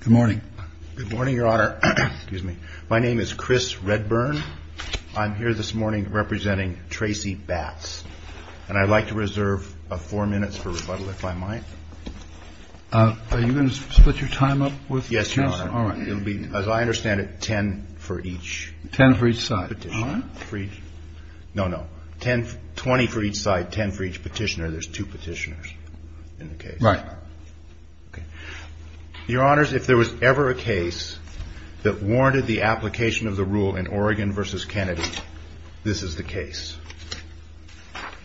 Good morning, your honor. My name is Chris Redburn. I'm here this morning representing Tracy Batts. And I'd like to reserve four minutes for rebuttal, if I might. Are you going to split your time up? Yes, you are. As I understand it, ten for each petition. No, no. Twenty for each side, ten for each petitioner. There's two petitioners in the case. Right. Your honors, if there was ever a case that warranted the application of the rule in Oregon v. Kennedy, this is the case.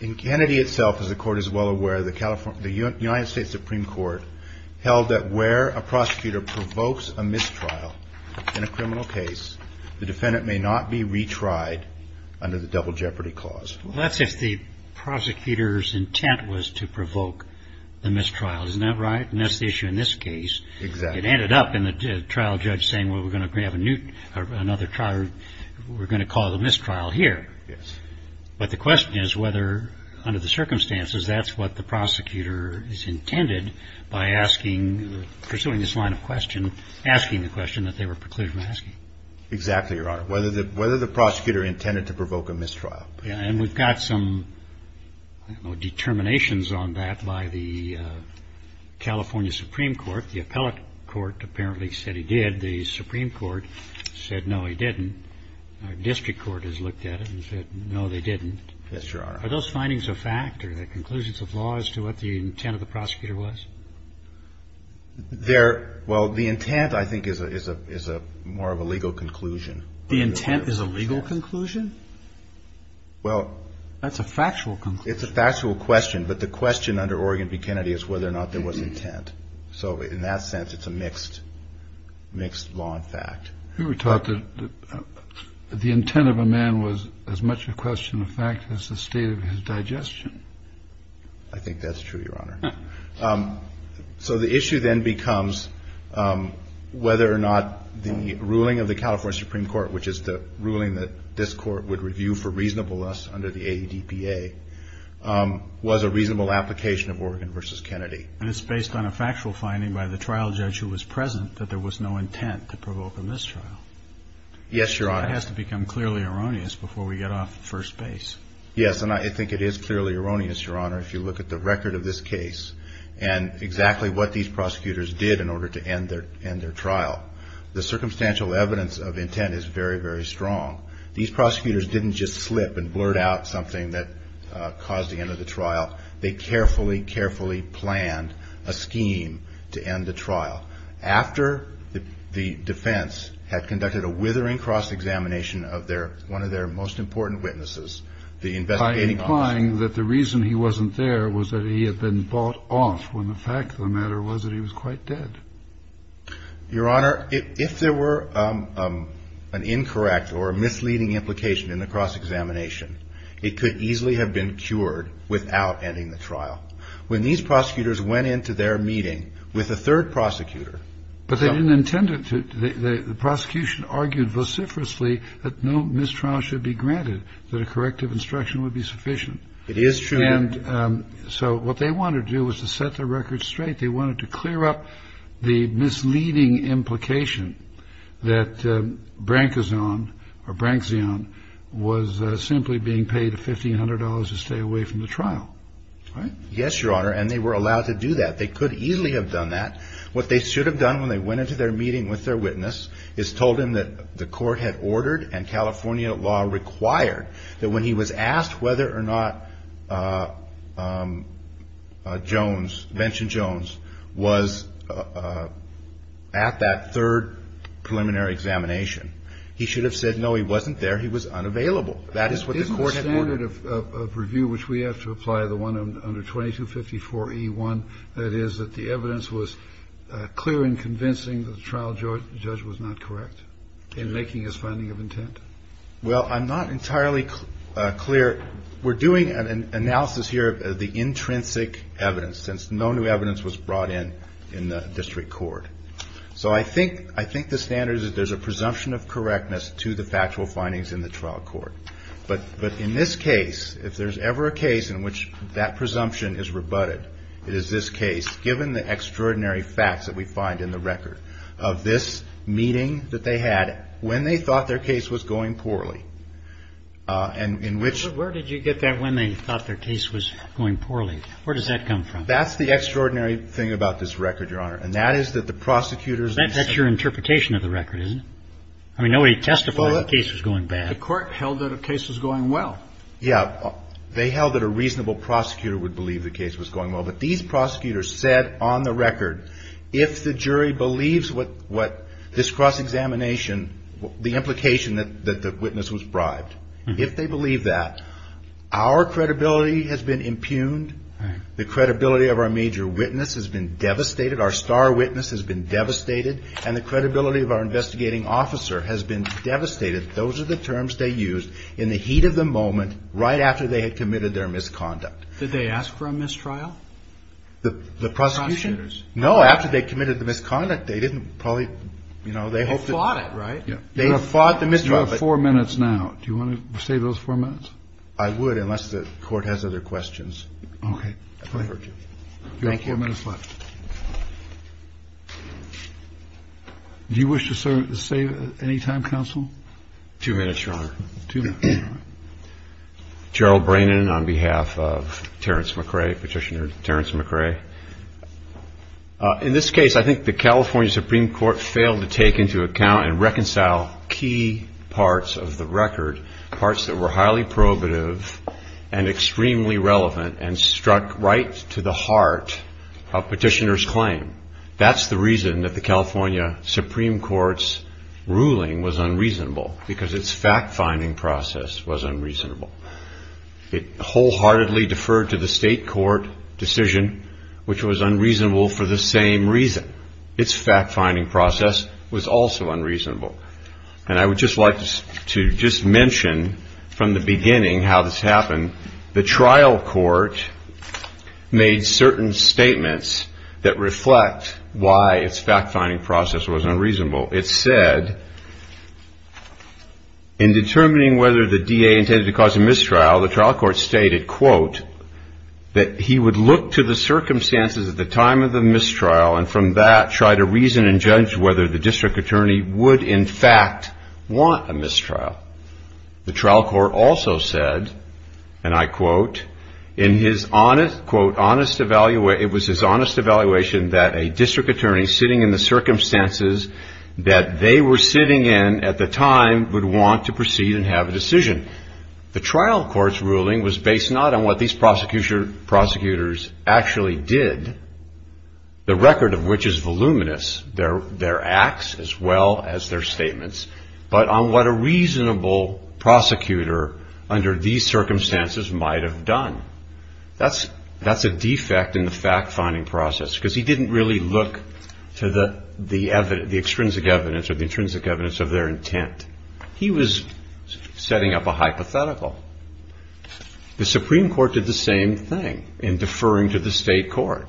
In Kennedy itself, as the court is well aware, the United States Supreme Court held that where a prosecutor provokes a mistrial in a criminal case, the defendant may not be retried under the double jeopardy clause. Well, that's if the prosecutor's intent was to provoke the mistrial. Isn't that right? And that's the issue in this case. Exactly. It ended up in the trial judge saying, well, we're going to have another trial. We're going to call the mistrial here. Yes. But the question is whether, under the circumstances, that's what the prosecutor is intended by asking, pursuing this line of question, asking the question that they were precluded from asking. Exactly, Your Honor. Whether the prosecutor intended to provoke a mistrial. And we've got some determinations on that by the California Supreme Court. The appellate court apparently said he did. The Supreme Court said, no, he didn't. Our district court has looked at it and said, no, they didn't. Yes, Your Honor. Are those findings a fact or the conclusions of law as to what the intent of the prosecutor was? Well, the intent, I think, is more of a legal conclusion. The intent is a legal conclusion? Well. That's a factual conclusion. It's a factual question. But the question under Oregon v. Kennedy is whether or not there was intent. So in that sense, it's a mixed law and fact. We were taught that the intent of a man was as much a question of fact as the state of his digestion. I think that's true, Your Honor. So the issue then becomes whether or not the ruling of the California Supreme Court, which is the ruling that this court would review for reasonableness under the ADPA, was a reasonable application of Oregon v. Kennedy. And it's based on a factual finding by the trial judge who was present that there was no intent to provoke a mistrial. Yes, Your Honor. That has to become clearly erroneous before we get off first base. Yes, and I think it is clearly erroneous, Your Honor, if you look at the record of this case and exactly what these prosecutors did in order to end their trial. The circumstantial evidence of intent is very, very strong. These prosecutors didn't just slip and blurt out something that caused the end of the trial. They carefully, carefully planned a scheme to end the trial. After the defense had conducted a withering cross-examination of one of their most important witnesses, the investigating officer. By implying that the reason he wasn't there was that he had been bought off when the fact of the matter was that he was quite dead. Your Honor, if there were an incorrect or misleading implication in the cross-examination, it could easily have been cured without ending the trial. When these prosecutors went into their meeting with a third prosecutor. But they didn't intend to. The prosecution argued vociferously that no mistrial should be granted, that a corrective instruction would be sufficient. It is true. And so what they wanted to do was to set the record straight. They wanted to clear up the misleading implication that Brankazon or Brankzeon was simply being paid $1,500 to stay away from the trial. Right? Yes, Your Honor, and they were allowed to do that. They could easily have done that. What they should have done when they went into their meeting with their witness is told them that the court had ordered and California law required that when he was asked whether or not Jones, Benson Jones, was at that third preliminary examination, he should have said no, he wasn't there. He was unavailable. That is what the court had ordered. The standard of review which we have to apply, the one under 2254E1, that is that the evidence was clear in convincing the trial judge was not correct in making his finding of intent? Well, I'm not entirely clear. We're doing an analysis here of the intrinsic evidence, since no new evidence was brought in in the district court. So I think the standard is that there's a presumption of correctness to the factual findings in the trial court. But in this case, if there's ever a case in which that presumption is rebutted, it is this case, given the extraordinary facts that we find in the record of this meeting that they had when they thought their case was going poorly. Where did you get that when they thought their case was going poorly? Where does that come from? That's the extraordinary thing about this record, Your Honor, and that is that the prosecutors... That's your interpretation of the record, isn't it? I mean, nobody testified that the case was going bad. The court held that the case was going well. Yeah. They held that a reasonable prosecutor would believe the case was going well. But these prosecutors said on the record, if the jury believes what this cross-examination, the implication that the witness was bribed, if they believe that, our credibility has been impugned, the credibility of our major witness has been devastated, our star witness has been devastated, and the credibility of our investigating officer has been devastated. Those are the terms they used in the heat of the moment right after they had committed their misconduct. Did they ask for a mistrial? The prosecution? No, after they committed the misconduct, they didn't probably, you know, they hoped that... They fought it, right? They fought the mistrial, but... You have four minutes now. Do you want to save those four minutes? I would, unless the Court has other questions. Okay. If I hurt you. Thank you. You have four minutes left. Do you wish to save any time, counsel? Two minutes, Your Honor. Two minutes, Your Honor. Gerald Brannan on behalf of Terrence McRae, Petitioner Terrence McRae. In this case, I think the California Supreme Court failed to take into account and reconcile key parts of the record, parts that were highly probative and extremely relevant and struck right to the heart of Petitioner's claim. That's the reason that the California Supreme Court's ruling was unreasonable, because its fact-finding process was unreasonable. It wholeheartedly deferred to the state court decision, which was unreasonable for the same reason. Its fact-finding process was also unreasonable. And I would just like to just mention from the beginning how this happened. The trial court made certain statements that reflect why its fact-finding process was unreasonable. It said, in determining whether the DA intended to cause a mistrial, the trial court stated, quote, that he would look to the circumstances at the time of the mistrial, and from that, try to reason and judge whether the district attorney would, in fact, want a mistrial. The trial court also said, and I quote, in his, quote, honest evaluation, it was his honest evaluation that a district attorney sitting in the circumstances that they were sitting in at the time would want to proceed and have a decision. The trial court's ruling was based not on what these prosecutors actually did. The record of which is voluminous, their acts as well as their statements, but on what a reasonable prosecutor under these circumstances might have done. That's a defect in the fact-finding process, because he didn't really look to the extrinsic evidence or the intrinsic evidence of their intent. He was setting up a hypothetical. The Supreme Court did the same thing in deferring to the state court.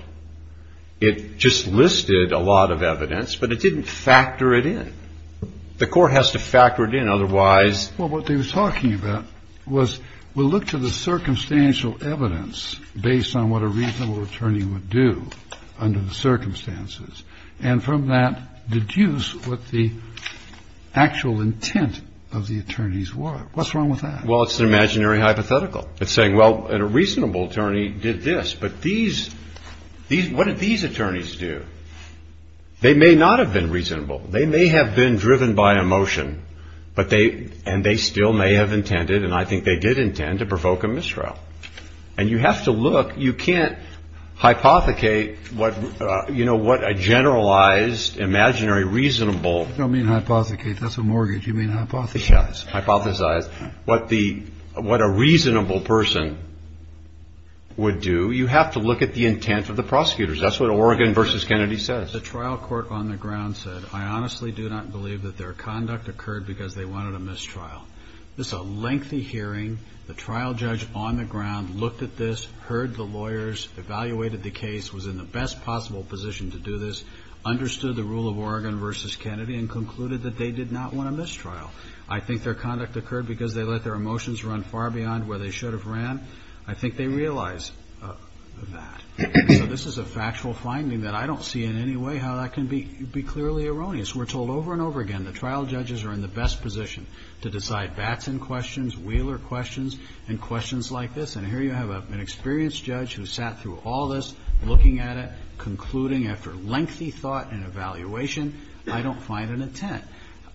It just listed a lot of evidence, but it didn't factor it in. The court has to factor it in, otherwise — Well, what they were talking about was we'll look to the circumstantial evidence based on what a reasonable attorney would do under the circumstances, and from that, deduce what the actual intent of the attorneys was. What's wrong with that? Well, it's an imaginary hypothetical. It's saying, well, a reasonable attorney did this, but what did these attorneys do? They may not have been reasonable. They may have been driven by emotion, and they still may have intended, and I think they did intend, to provoke a mistrial. And you have to look. You can't hypothecate what a generalized, imaginary, reasonable — You don't mean hypothecate. That's a mortgage. You mean hypothesize. Yes, hypothesize. What a reasonable person would do, you have to look at the intent of the prosecutors. That's what Oregon v. Kennedy says. The trial court on the ground said, I honestly do not believe that their conduct occurred because they wanted a mistrial. This is a lengthy hearing. The trial judge on the ground looked at this, heard the lawyers, evaluated the case, was in the best possible position to do this, understood the rule of Oregon v. Kennedy, and concluded that they did not want a mistrial. I think their conduct occurred because they let their emotions run far beyond where they should have ran. I think they realized that. So this is a factual finding that I don't see in any way how that can be clearly erroneous. We're told over and over again the trial judges are in the best position to decide Batson questions, Wheeler questions, and questions like this. And here you have an experienced judge who sat through all this, looking at it, concluding after lengthy thought and evaluation, I don't find an intent.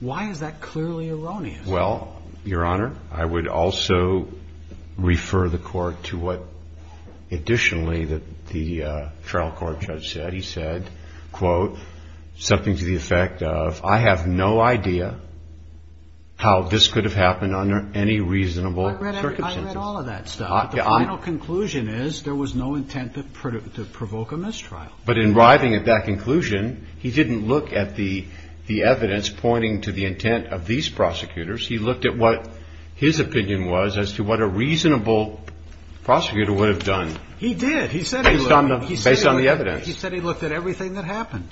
Why is that clearly erroneous? Well, Your Honor, I would also refer the Court to what additionally the trial court judge said. He said, quote, something to the effect of, I have no idea how this could have happened under any reasonable circumstances. I read all of that stuff. But the final conclusion is there was no intent to provoke a mistrial. But in arriving at that conclusion, he didn't look at the evidence pointing to the intent of these prosecutors. He looked at what his opinion was as to what a reasonable prosecutor would have done. He did. Based on the evidence. He said he looked at everything that happened.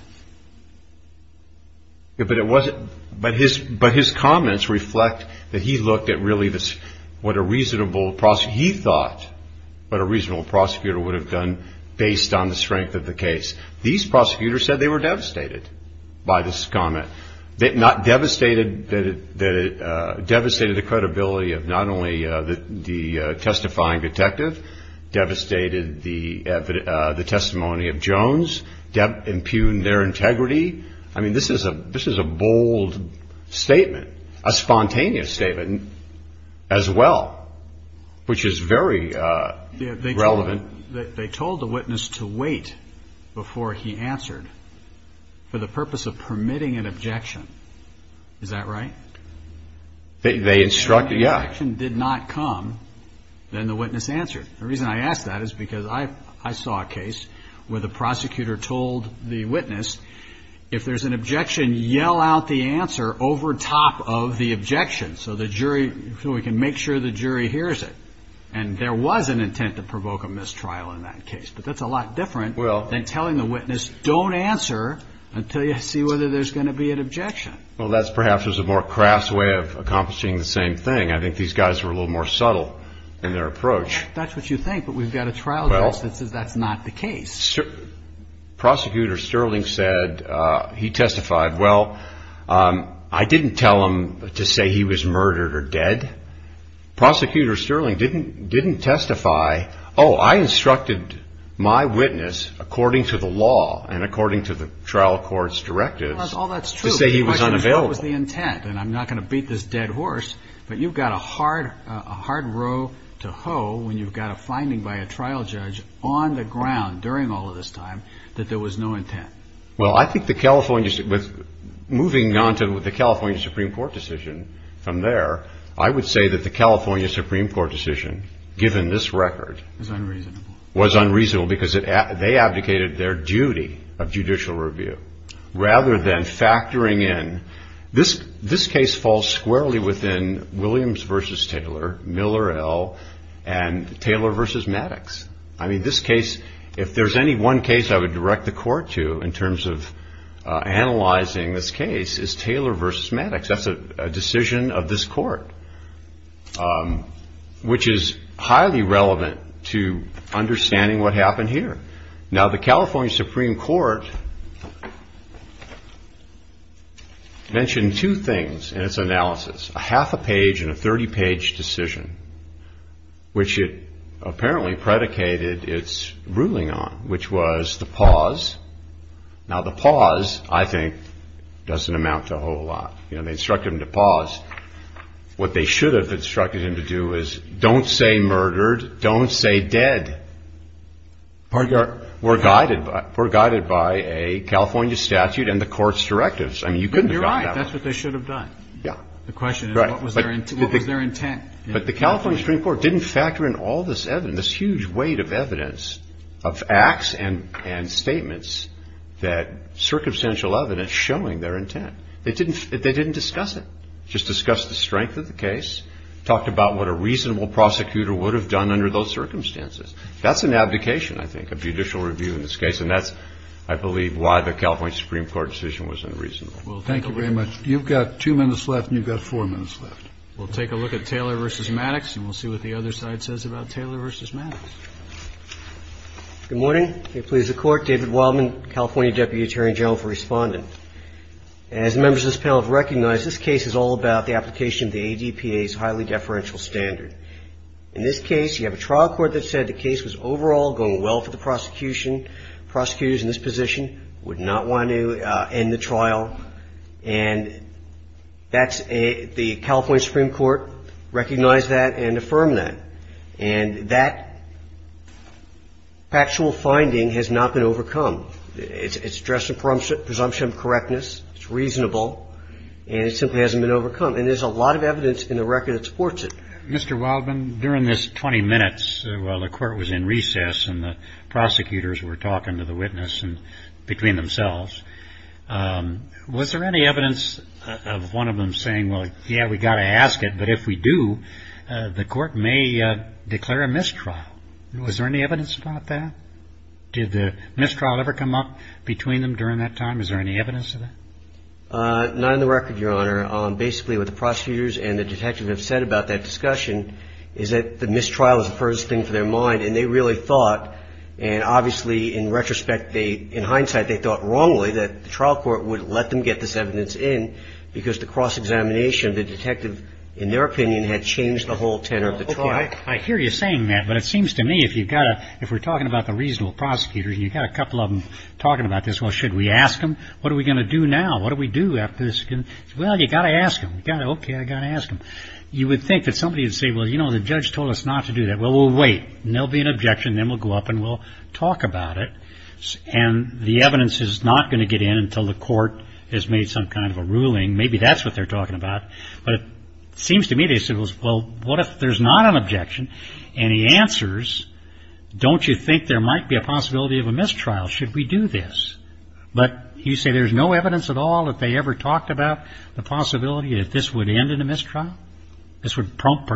But his comments reflect that he looked at really what a reasonable prosecutor, he thought what a reasonable prosecutor would have done based on the strength of the case. These prosecutors said they were devastated by this comment. Devastated the credibility of not only the testifying detective, devastated the testimony of Jones, impugned their integrity. I mean, this is a bold statement, a spontaneous statement as well, which is very relevant. They told the witness to wait before he answered for the purpose of permitting an objection. Is that right? They instructed, yeah. If the objection did not come, then the witness answered. The reason I ask that is because I saw a case where the prosecutor told the witness if there's an objection, yell out the answer over top of the objection so we can make sure the jury hears it. And there was an intent to provoke a mistrial in that case. But that's a lot different than telling the witness don't answer until you see whether there's going to be an objection. Well, that's perhaps a more crass way of accomplishing the same thing. I think these guys were a little more subtle in their approach. That's what you think, but we've got a trial judge that says that's not the case. Prosecutor Sterling said, he testified, well, I didn't tell him to say he was murdered or dead. Prosecutor Sterling didn't testify, oh, I instructed my witness according to the law and according to the trial court's directives to say he was unavailable. Well, all that's true, but the question is what was the intent? And I'm not going to beat this dead horse, but you've got a hard row to hoe when you've got a finding by a trial judge on the ground during all of this time that there was no intent. Well, I think moving on to the California Supreme Court decision from there, I would say that the California Supreme Court decision, given this record, was unreasonable because they abdicated their duty of judicial review. Rather than factoring in, this case falls squarely within Williams v. Taylor, Miller L., and Taylor v. Maddox. I mean, this case, if there's any one case I would direct the court to in terms of analyzing this case, it's Taylor v. Maddox. That's a decision of this court, which is highly relevant to understanding what happened here. Now, the California Supreme Court mentioned two things in its analysis, a half a page and a 30-page decision, which it apparently predicated its ruling on, which was the pause. Now, the pause, I think, doesn't amount to a whole lot. You know, they instructed him to pause. What they should have instructed him to do is don't say murdered, don't say dead. Pardon me. We're guided by a California statute and the court's directives. I mean, you couldn't have gotten that wrong. You're right. That's what they should have done. Yeah. The question is what was their intent. But the California Supreme Court didn't factor in all this evidence, this huge weight of evidence of acts and statements that circumstantial evidence showing their intent. They didn't discuss it. Just discussed the strength of the case, talked about what a reasonable prosecutor would have done under those circumstances. That's an abdication, I think, of judicial review in this case. And that's, I believe, why the California Supreme Court decision was unreasonable. Thank you very much. You've got two minutes left and you've got four minutes left. We'll take a look at Taylor v. Maddox and we'll see what the other side says about Taylor v. Maddox. Good morning. May it please the Court. David Wildman, California Deputy Attorney General for Respondent. As members of this panel have recognized, this case is all about the application of the ADPA's highly deferential standard. In this case, you have a trial court that said the case was overall going well for the prosecution. Prosecutors in this position would not want to end the trial. And that's a – the California Supreme Court recognized that and affirmed that. And that factual finding has not been overcome. It's addressed the presumption of correctness. It's reasonable. And it simply hasn't been overcome. And there's a lot of evidence in the record that supports it. Mr. Wildman, during this 20 minutes while the Court was in recess and the prosecutors were talking to the witness and between themselves, was there any evidence of one of them saying, well, yeah, we've got to ask it, but if we do, the Court may declare a mistrial? Was there any evidence about that? Did the mistrial ever come up between them during that time? Is there any evidence of that? Not in the record, Your Honor. The only thing I can say, Your Honor, basically what the prosecutors and the detective have said about that discussion is that the mistrial is the first thing for their mind. And they really thought – and obviously, in retrospect, they – in hindsight, they thought wrongly that the trial court would let them get this evidence in because the cross-examination of the detective in their opinion had changed the whole tenor of the trial. I hear you saying that, but it seems to me if you've got to – if we're talking about the reasonable prosecutors and you've got a couple of them talking about this, well, should we ask them? What are we going to do now? What do we do after this? Well, you've got to ask them. You've got to – okay, I've got to ask them. You would think that somebody would say, well, you know, the judge told us not to do that. Well, we'll wait. And there will be an objection. Then we'll go up and we'll talk about it. And the evidence is not going to get in until the Court has made some kind of a ruling. Maybe that's what they're talking about. But it seems to me they said, well, what if there's not an objection? And he answers, don't you think there might be a possibility of a mistrial? Should we do this? But you say there's no evidence at all that they ever talked about the possibility that this would end in a mistrial? This would prompt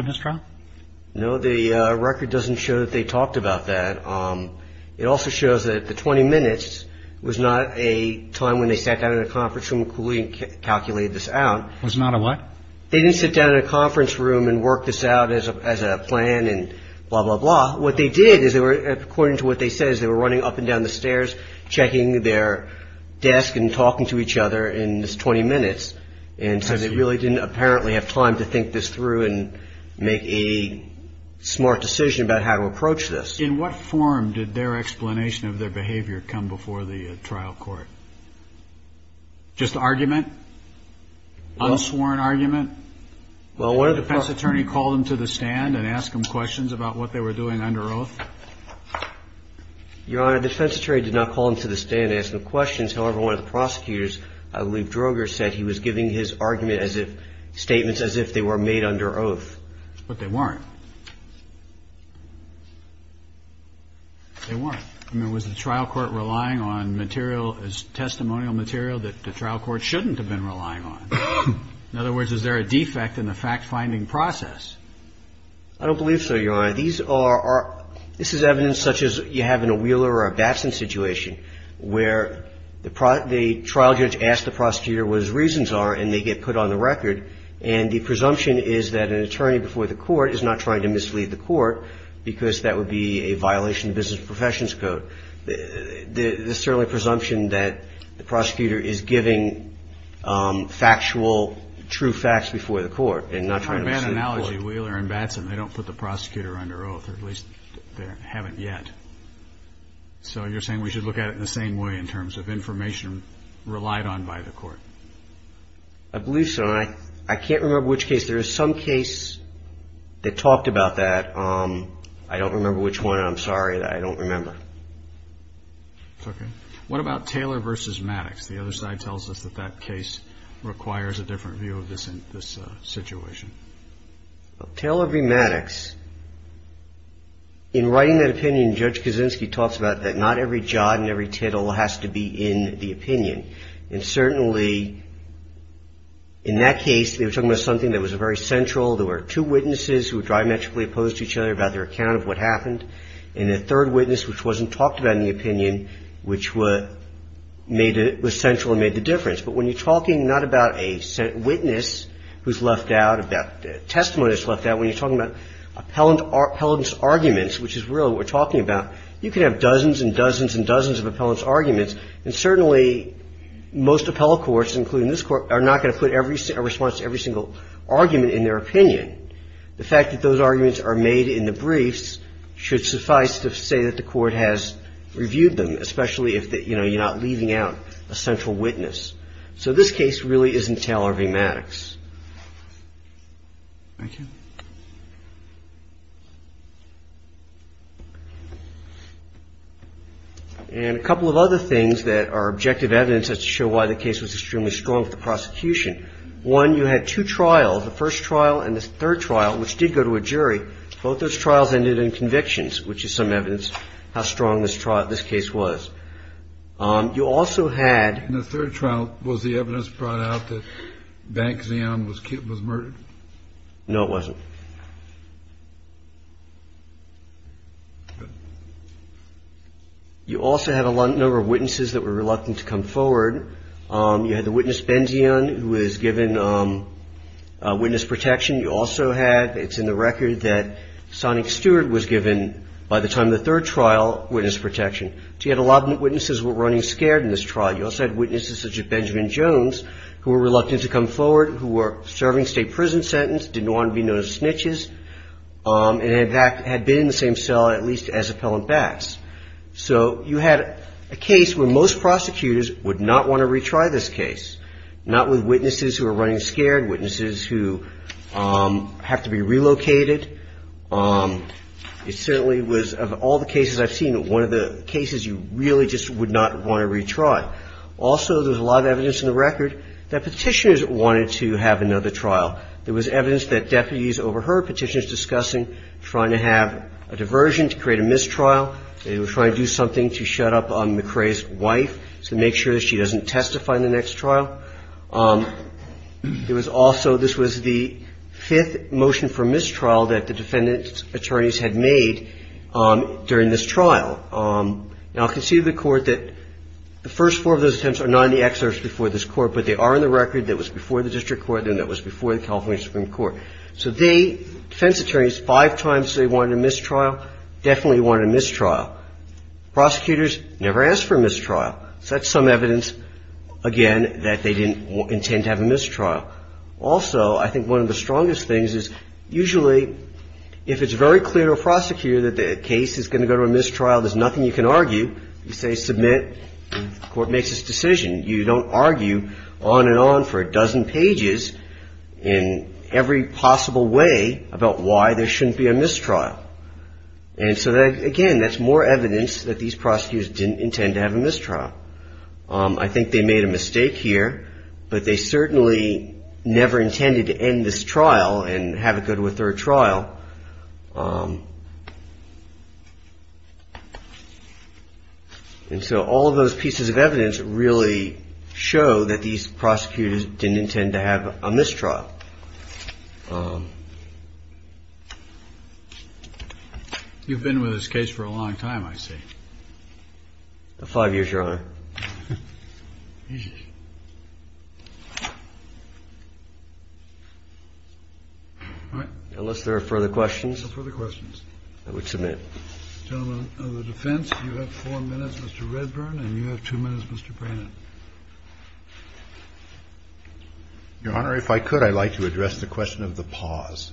a mistrial? No, the record doesn't show that they talked about that. It also shows that the 20 minutes was not a time when they sat down in a conference room and calculated this out. It was not a what? They didn't sit down in a conference room and work this out as a plan and blah, blah, blah. What they did is they were, according to what they said, is they were running up and down the stairs, checking their desk and talking to each other in this 20 minutes. And so they really didn't apparently have time to think this through and make a smart decision about how to approach this. In what form did their explanation of their behavior come before the trial court? Just argument? Unsworn argument? Did the defense attorney call them to the stand and ask them questions about what they were doing under oath? Your Honor, the defense attorney did not call them to the stand and ask them questions. However, one of the prosecutors, I believe Droger, said he was giving his argument as if statements as if they were made under oath. But they weren't. They weren't. I mean, was the trial court relying on material as testimonial material that the trial court shouldn't have been relying on? In other words, is there a defect in the fact-finding process? I don't believe so, Your Honor. This is evidence such as you have in a Wheeler or a Babson situation where the trial judge asks the prosecutor what his reasons are and they get put on the record. And the presumption is that an attorney before the court is not trying to mislead the court because that would be a violation of business and professions code. There's certainly a presumption that the prosecutor is giving factual, true facts before the court and not trying to mislead the court. But in that analogy, Wheeler and Babson, they don't put the prosecutor under oath, or at least they haven't yet. So you're saying we should look at it in the same way in terms of information relied on by the court? I believe so. I can't remember which case. There is some case that talked about that. I don't remember which one. I'm sorry. I don't remember. What about Taylor v. Maddox? The other side tells us that that case requires a different view of this situation. Taylor v. Maddox, in writing that opinion, Judge Kaczynski talks about that not every jot and every tittle has to be in the opinion. And certainly in that case, they were talking about something that was very central. There were two witnesses who were diametrically opposed to each other about their account of what happened. And the third witness, which wasn't talked about in the opinion, which was central and made the difference. But when you're talking not about a witness who's left out, about testimony that's left out, when you're talking about appellant's arguments, which is really what we're talking about, you can have dozens and dozens and dozens of appellant's arguments, and certainly most appellate courts, including this Court, are not going to put a response to every single argument in their opinion. The fact that those arguments are made in the briefs should suffice to say that the Court has reviewed them, especially if, you know, you're not leaving out a central witness. So this case really isn't Taylor v. Maddox. Thank you. And a couple of other things that are objective evidence as to show why the case was extremely strong with the prosecution. One, you had two trials, the first trial and the third trial, which did go to a jury. Both those trials ended in convictions, which is some evidence how strong this trial, this case was. You also had. No, it wasn't. You also had a number of witnesses that were reluctant to come forward. You had the witness, Benzion, who was given witness protection. You also had, it's in the record, that Sonic Stewart was given, by the time of the third trial, witness protection. So you had a lot of witnesses who were running scared in this trial. You also had witnesses such as Benjamin Jones, who were reluctant to come forward, who were serving state prison sentence, didn't want to be known as snitches, and in fact had been in the same cell at least as appellant Bax. So you had a case where most prosecutors would not want to retry this case, not with witnesses who were running scared, witnesses who have to be relocated. It certainly was, of all the cases I've seen, one of the cases you really just would not want to retry. Also, there's a lot of evidence in the record that Petitioners wanted to have another trial. There was evidence that deputies overheard Petitioners discussing trying to have a diversion to create a mistrial. They were trying to do something to shut up McCrae's wife to make sure that she doesn't testify in the next trial. There was also, this was the fifth motion for mistrial that the defendant's attorneys had made during this trial. Now, I can see of the Court that the first four of those attempts are not in the excerpts before this Court, but they are in the record that was before the district court and that was before the California Supreme Court. So they, defense attorneys, five times they wanted a mistrial, definitely wanted a mistrial. Prosecutors never asked for a mistrial. So that's some evidence, again, that they didn't intend to have a mistrial. Also, I think one of the strongest things is usually if it's very clear to a prosecutor that the case is going to go to a mistrial, there's nothing you can argue. You say submit, the Court makes its decision. You don't argue on and on for a dozen pages in every possible way about why there shouldn't be a mistrial. And so, again, that's more evidence that these prosecutors didn't intend to have a mistrial. I think they made a mistake here, but they certainly never intended to end this trial and have it go to a third trial. And so all of those pieces of evidence really show that these prosecutors didn't intend to have a mistrial. You've been with this case for a long time, I see. Unless there are further questions. No further questions. I would submit. Gentlemen, on the defense, you have four minutes, Mr. Redburn, and you have two minutes, Mr. Brannon. Your Honor, if I could, I'd like to address the question of the pause.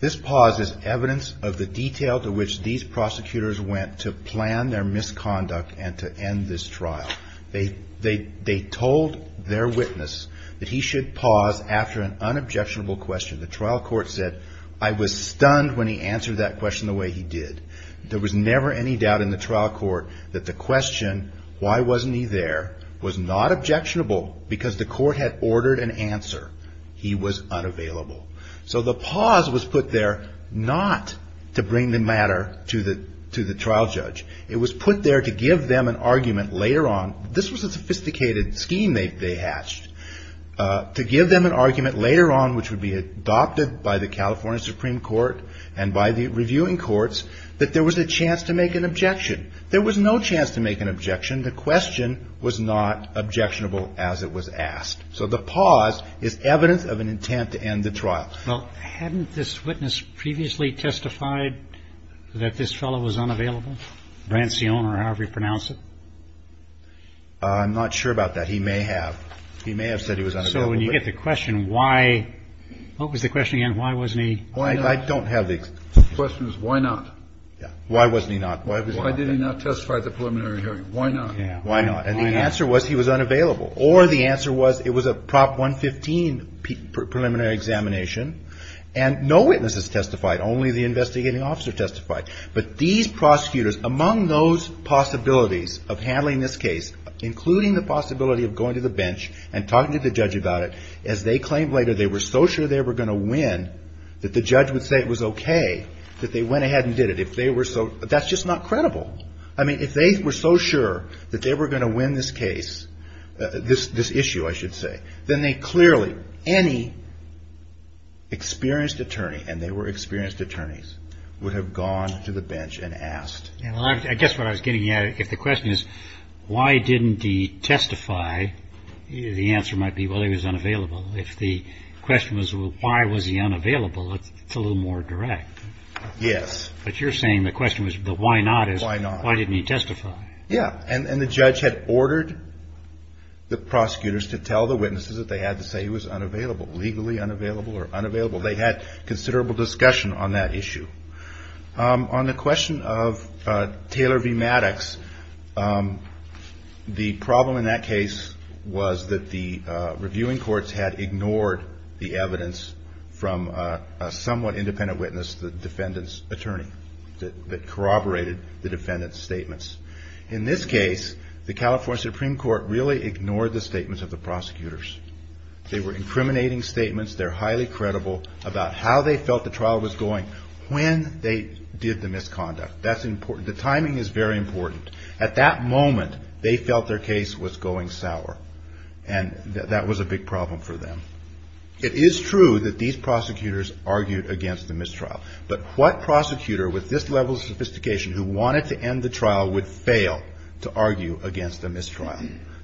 This pause is evidence of the detail to which these prosecutors went to plan their misconduct and to end this trial. They told their witness that he should pause after an unobjectionable question. The trial court said, I was stunned when he answered that question the way he did. There was never any doubt in the trial court that the question, why wasn't he there, was not objectionable because the court had ordered an answer. He was unavailable. So the pause was put there not to bring the matter to the trial judge. It was put there to give them an argument later on. This was a sophisticated scheme they hatched. To give them an argument later on, which would be adopted by the California Supreme Court and by the reviewing courts, that there was a chance to make an objection. There was no chance to make an objection. The question was not objectionable as it was asked. So the pause is evidence of an intent to end the trial. Well, hadn't this witness previously testified that this fellow was unavailable? Brancione or however you pronounce it? I'm not sure about that. He may have. He may have said he was unavailable. So when you get the question, why, what was the question again? Why wasn't he? I don't have the answer. The question is why not? Yeah. Why wasn't he not? Why did he not testify at the preliminary hearing? Why not? Why not? And the answer was he was unavailable. Or the answer was it was a Prop 115 preliminary examination and no witnesses testified. Only the investigating officer testified. But these prosecutors, among those possibilities of handling this case, including the possibility of going to the bench and talking to the judge about it, as they claimed later they were so sure they were going to win that the judge would say it was okay that they went ahead and did it. If they were so, that's just not credible. I mean, if they were so sure that they were going to win this case, this issue, I should say, then they clearly, any experienced attorney, and they were experienced attorneys, would have gone to the bench and asked. I guess what I was getting at, if the question is why didn't he testify, the answer might be, well, he was unavailable. If the question was why was he unavailable, it's a little more direct. Yes. But you're saying the question was the why not is why didn't he testify? Yeah. And the judge had ordered the prosecutors to tell the witnesses that they had to say he was unavailable, legally unavailable or unavailable. They had considerable discussion on that issue. On the question of Taylor v. Maddox, the problem in that case was that the reviewing courts had ignored the evidence from a somewhat independent witness, the defendant's attorney, that corroborated the defendant's statements. In this case, the California Supreme Court really ignored the statements of the prosecutors. They were incriminating statements. They're highly credible about how they felt the trial was going, when they did the misconduct. That's important. The timing is very important. At that moment, they felt their case was going sour, and that was a big problem for them. It is true that these prosecutors argued against the mistrial. But what prosecutor with this level of sophistication who wanted to end the trial would fail to argue against a mistrial?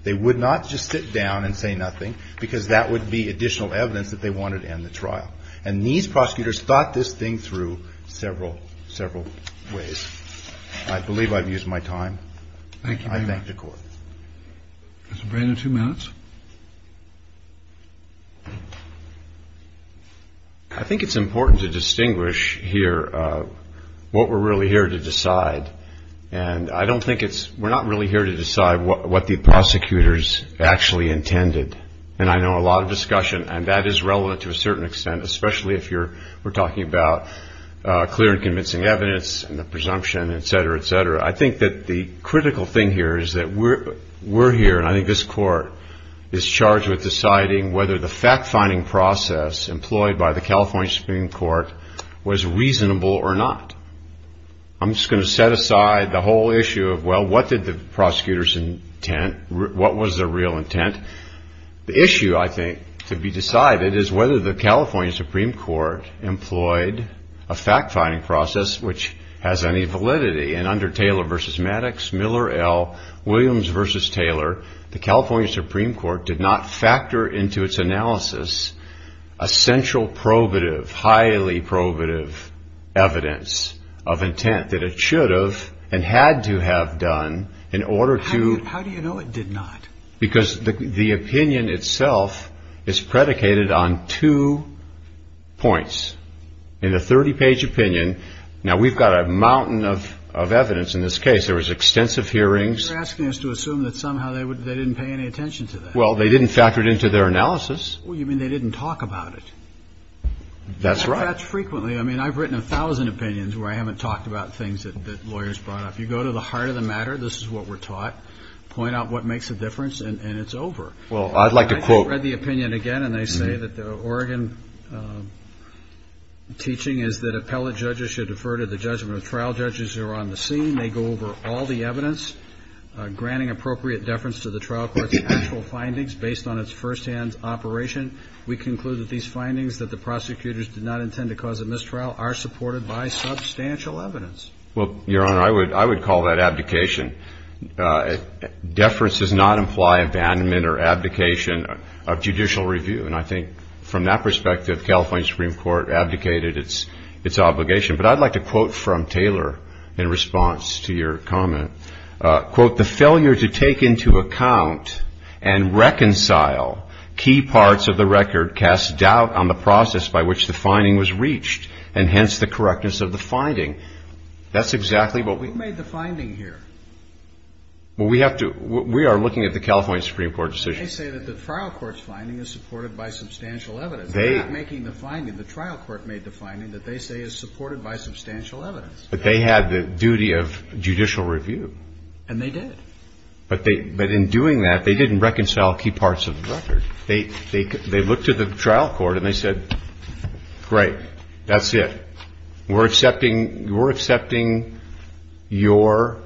They would not just sit down and say nothing, because that would be additional evidence that they wanted to end the trial. And these prosecutors thought this thing through several, several ways. I believe I've used my time. I thank the Court. Mr. Brainard, two minutes. I think it's important to distinguish here what we're really here to decide, and I don't think it's we're not really here to decide what the prosecutors actually intended. And I know a lot of discussion, and that is relevant to a certain extent, especially if we're talking about clear and convincing evidence and the presumption, et cetera, et cetera. I think that the critical thing here is that we're here, and I think this Court is charged with deciding whether the fact-finding process employed by the California Supreme Court was reasonable or not. I'm just going to set aside the whole issue of, well, what did the prosecutors intend? What was their real intent? The issue, I think, to be decided is whether the California Supreme Court employed a fact-finding process which has any validity, and under Taylor v. Maddox, Miller, L., Williams v. Taylor, the California Supreme Court did not factor into its analysis a central probative, highly probative evidence of intent that it should have and had to have done in order to- How do you know it did not? Because the opinion itself is predicated on two points. In the 30-page opinion, now, we've got a mountain of evidence in this case. There was extensive hearings. You're asking us to assume that somehow they didn't pay any attention to that. Well, they didn't factor it into their analysis. Well, you mean they didn't talk about it. That's right. That's frequently. I mean, I've written a thousand opinions where I haven't talked about things that lawyers brought up. You go to the heart of the matter, this is what we're taught, point out what makes a difference, and it's over. Well, I'd like to quote- What I'm teaching is that appellate judges should defer to the judgment of trial judges who are on the scene. They go over all the evidence, granting appropriate deference to the trial court's actual findings based on its firsthand operation. We conclude that these findings that the prosecutors did not intend to cause a mistrial are supported by substantial evidence. Well, Your Honor, I would call that abdication. Deference does not imply abandonment or abdication of judicial review. And I think from that perspective, California Supreme Court abdicated its obligation. But I'd like to quote from Taylor in response to your comment. Quote, the failure to take into account and reconcile key parts of the record casts doubt on the process by which the finding was reached and hence the correctness of the finding. That's exactly what we- Who made the finding here? Well, we have to- we are looking at the California Supreme Court decision. They say that the trial court's finding is supported by substantial evidence. They're not making the finding. The trial court made the finding that they say is supported by substantial evidence. But they had the duty of judicial review. And they did. But in doing that, they didn't reconcile key parts of the record. They looked to the trial court and they said, great, that's it. We're accepting your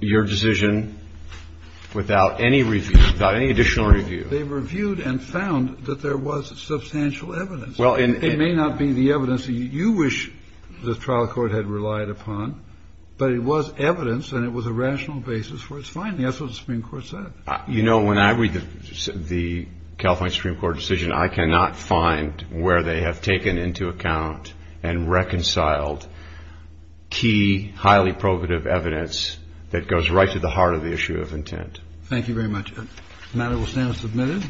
decision without any review, without any additional review. They reviewed and found that there was substantial evidence. Well, in- It may not be the evidence that you wish the trial court had relied upon, but it was evidence and it was a rational basis for its finding. That's what the Supreme Court said. You know, when I read the California Supreme Court decision, I cannot find where they have taken into account and reconciled key, highly probative evidence that goes right to the heart of the issue of intent. Thank you very much. The matter will stand submitted.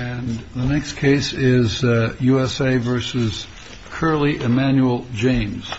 And the next case is USA versus Curley. Emmanuel James.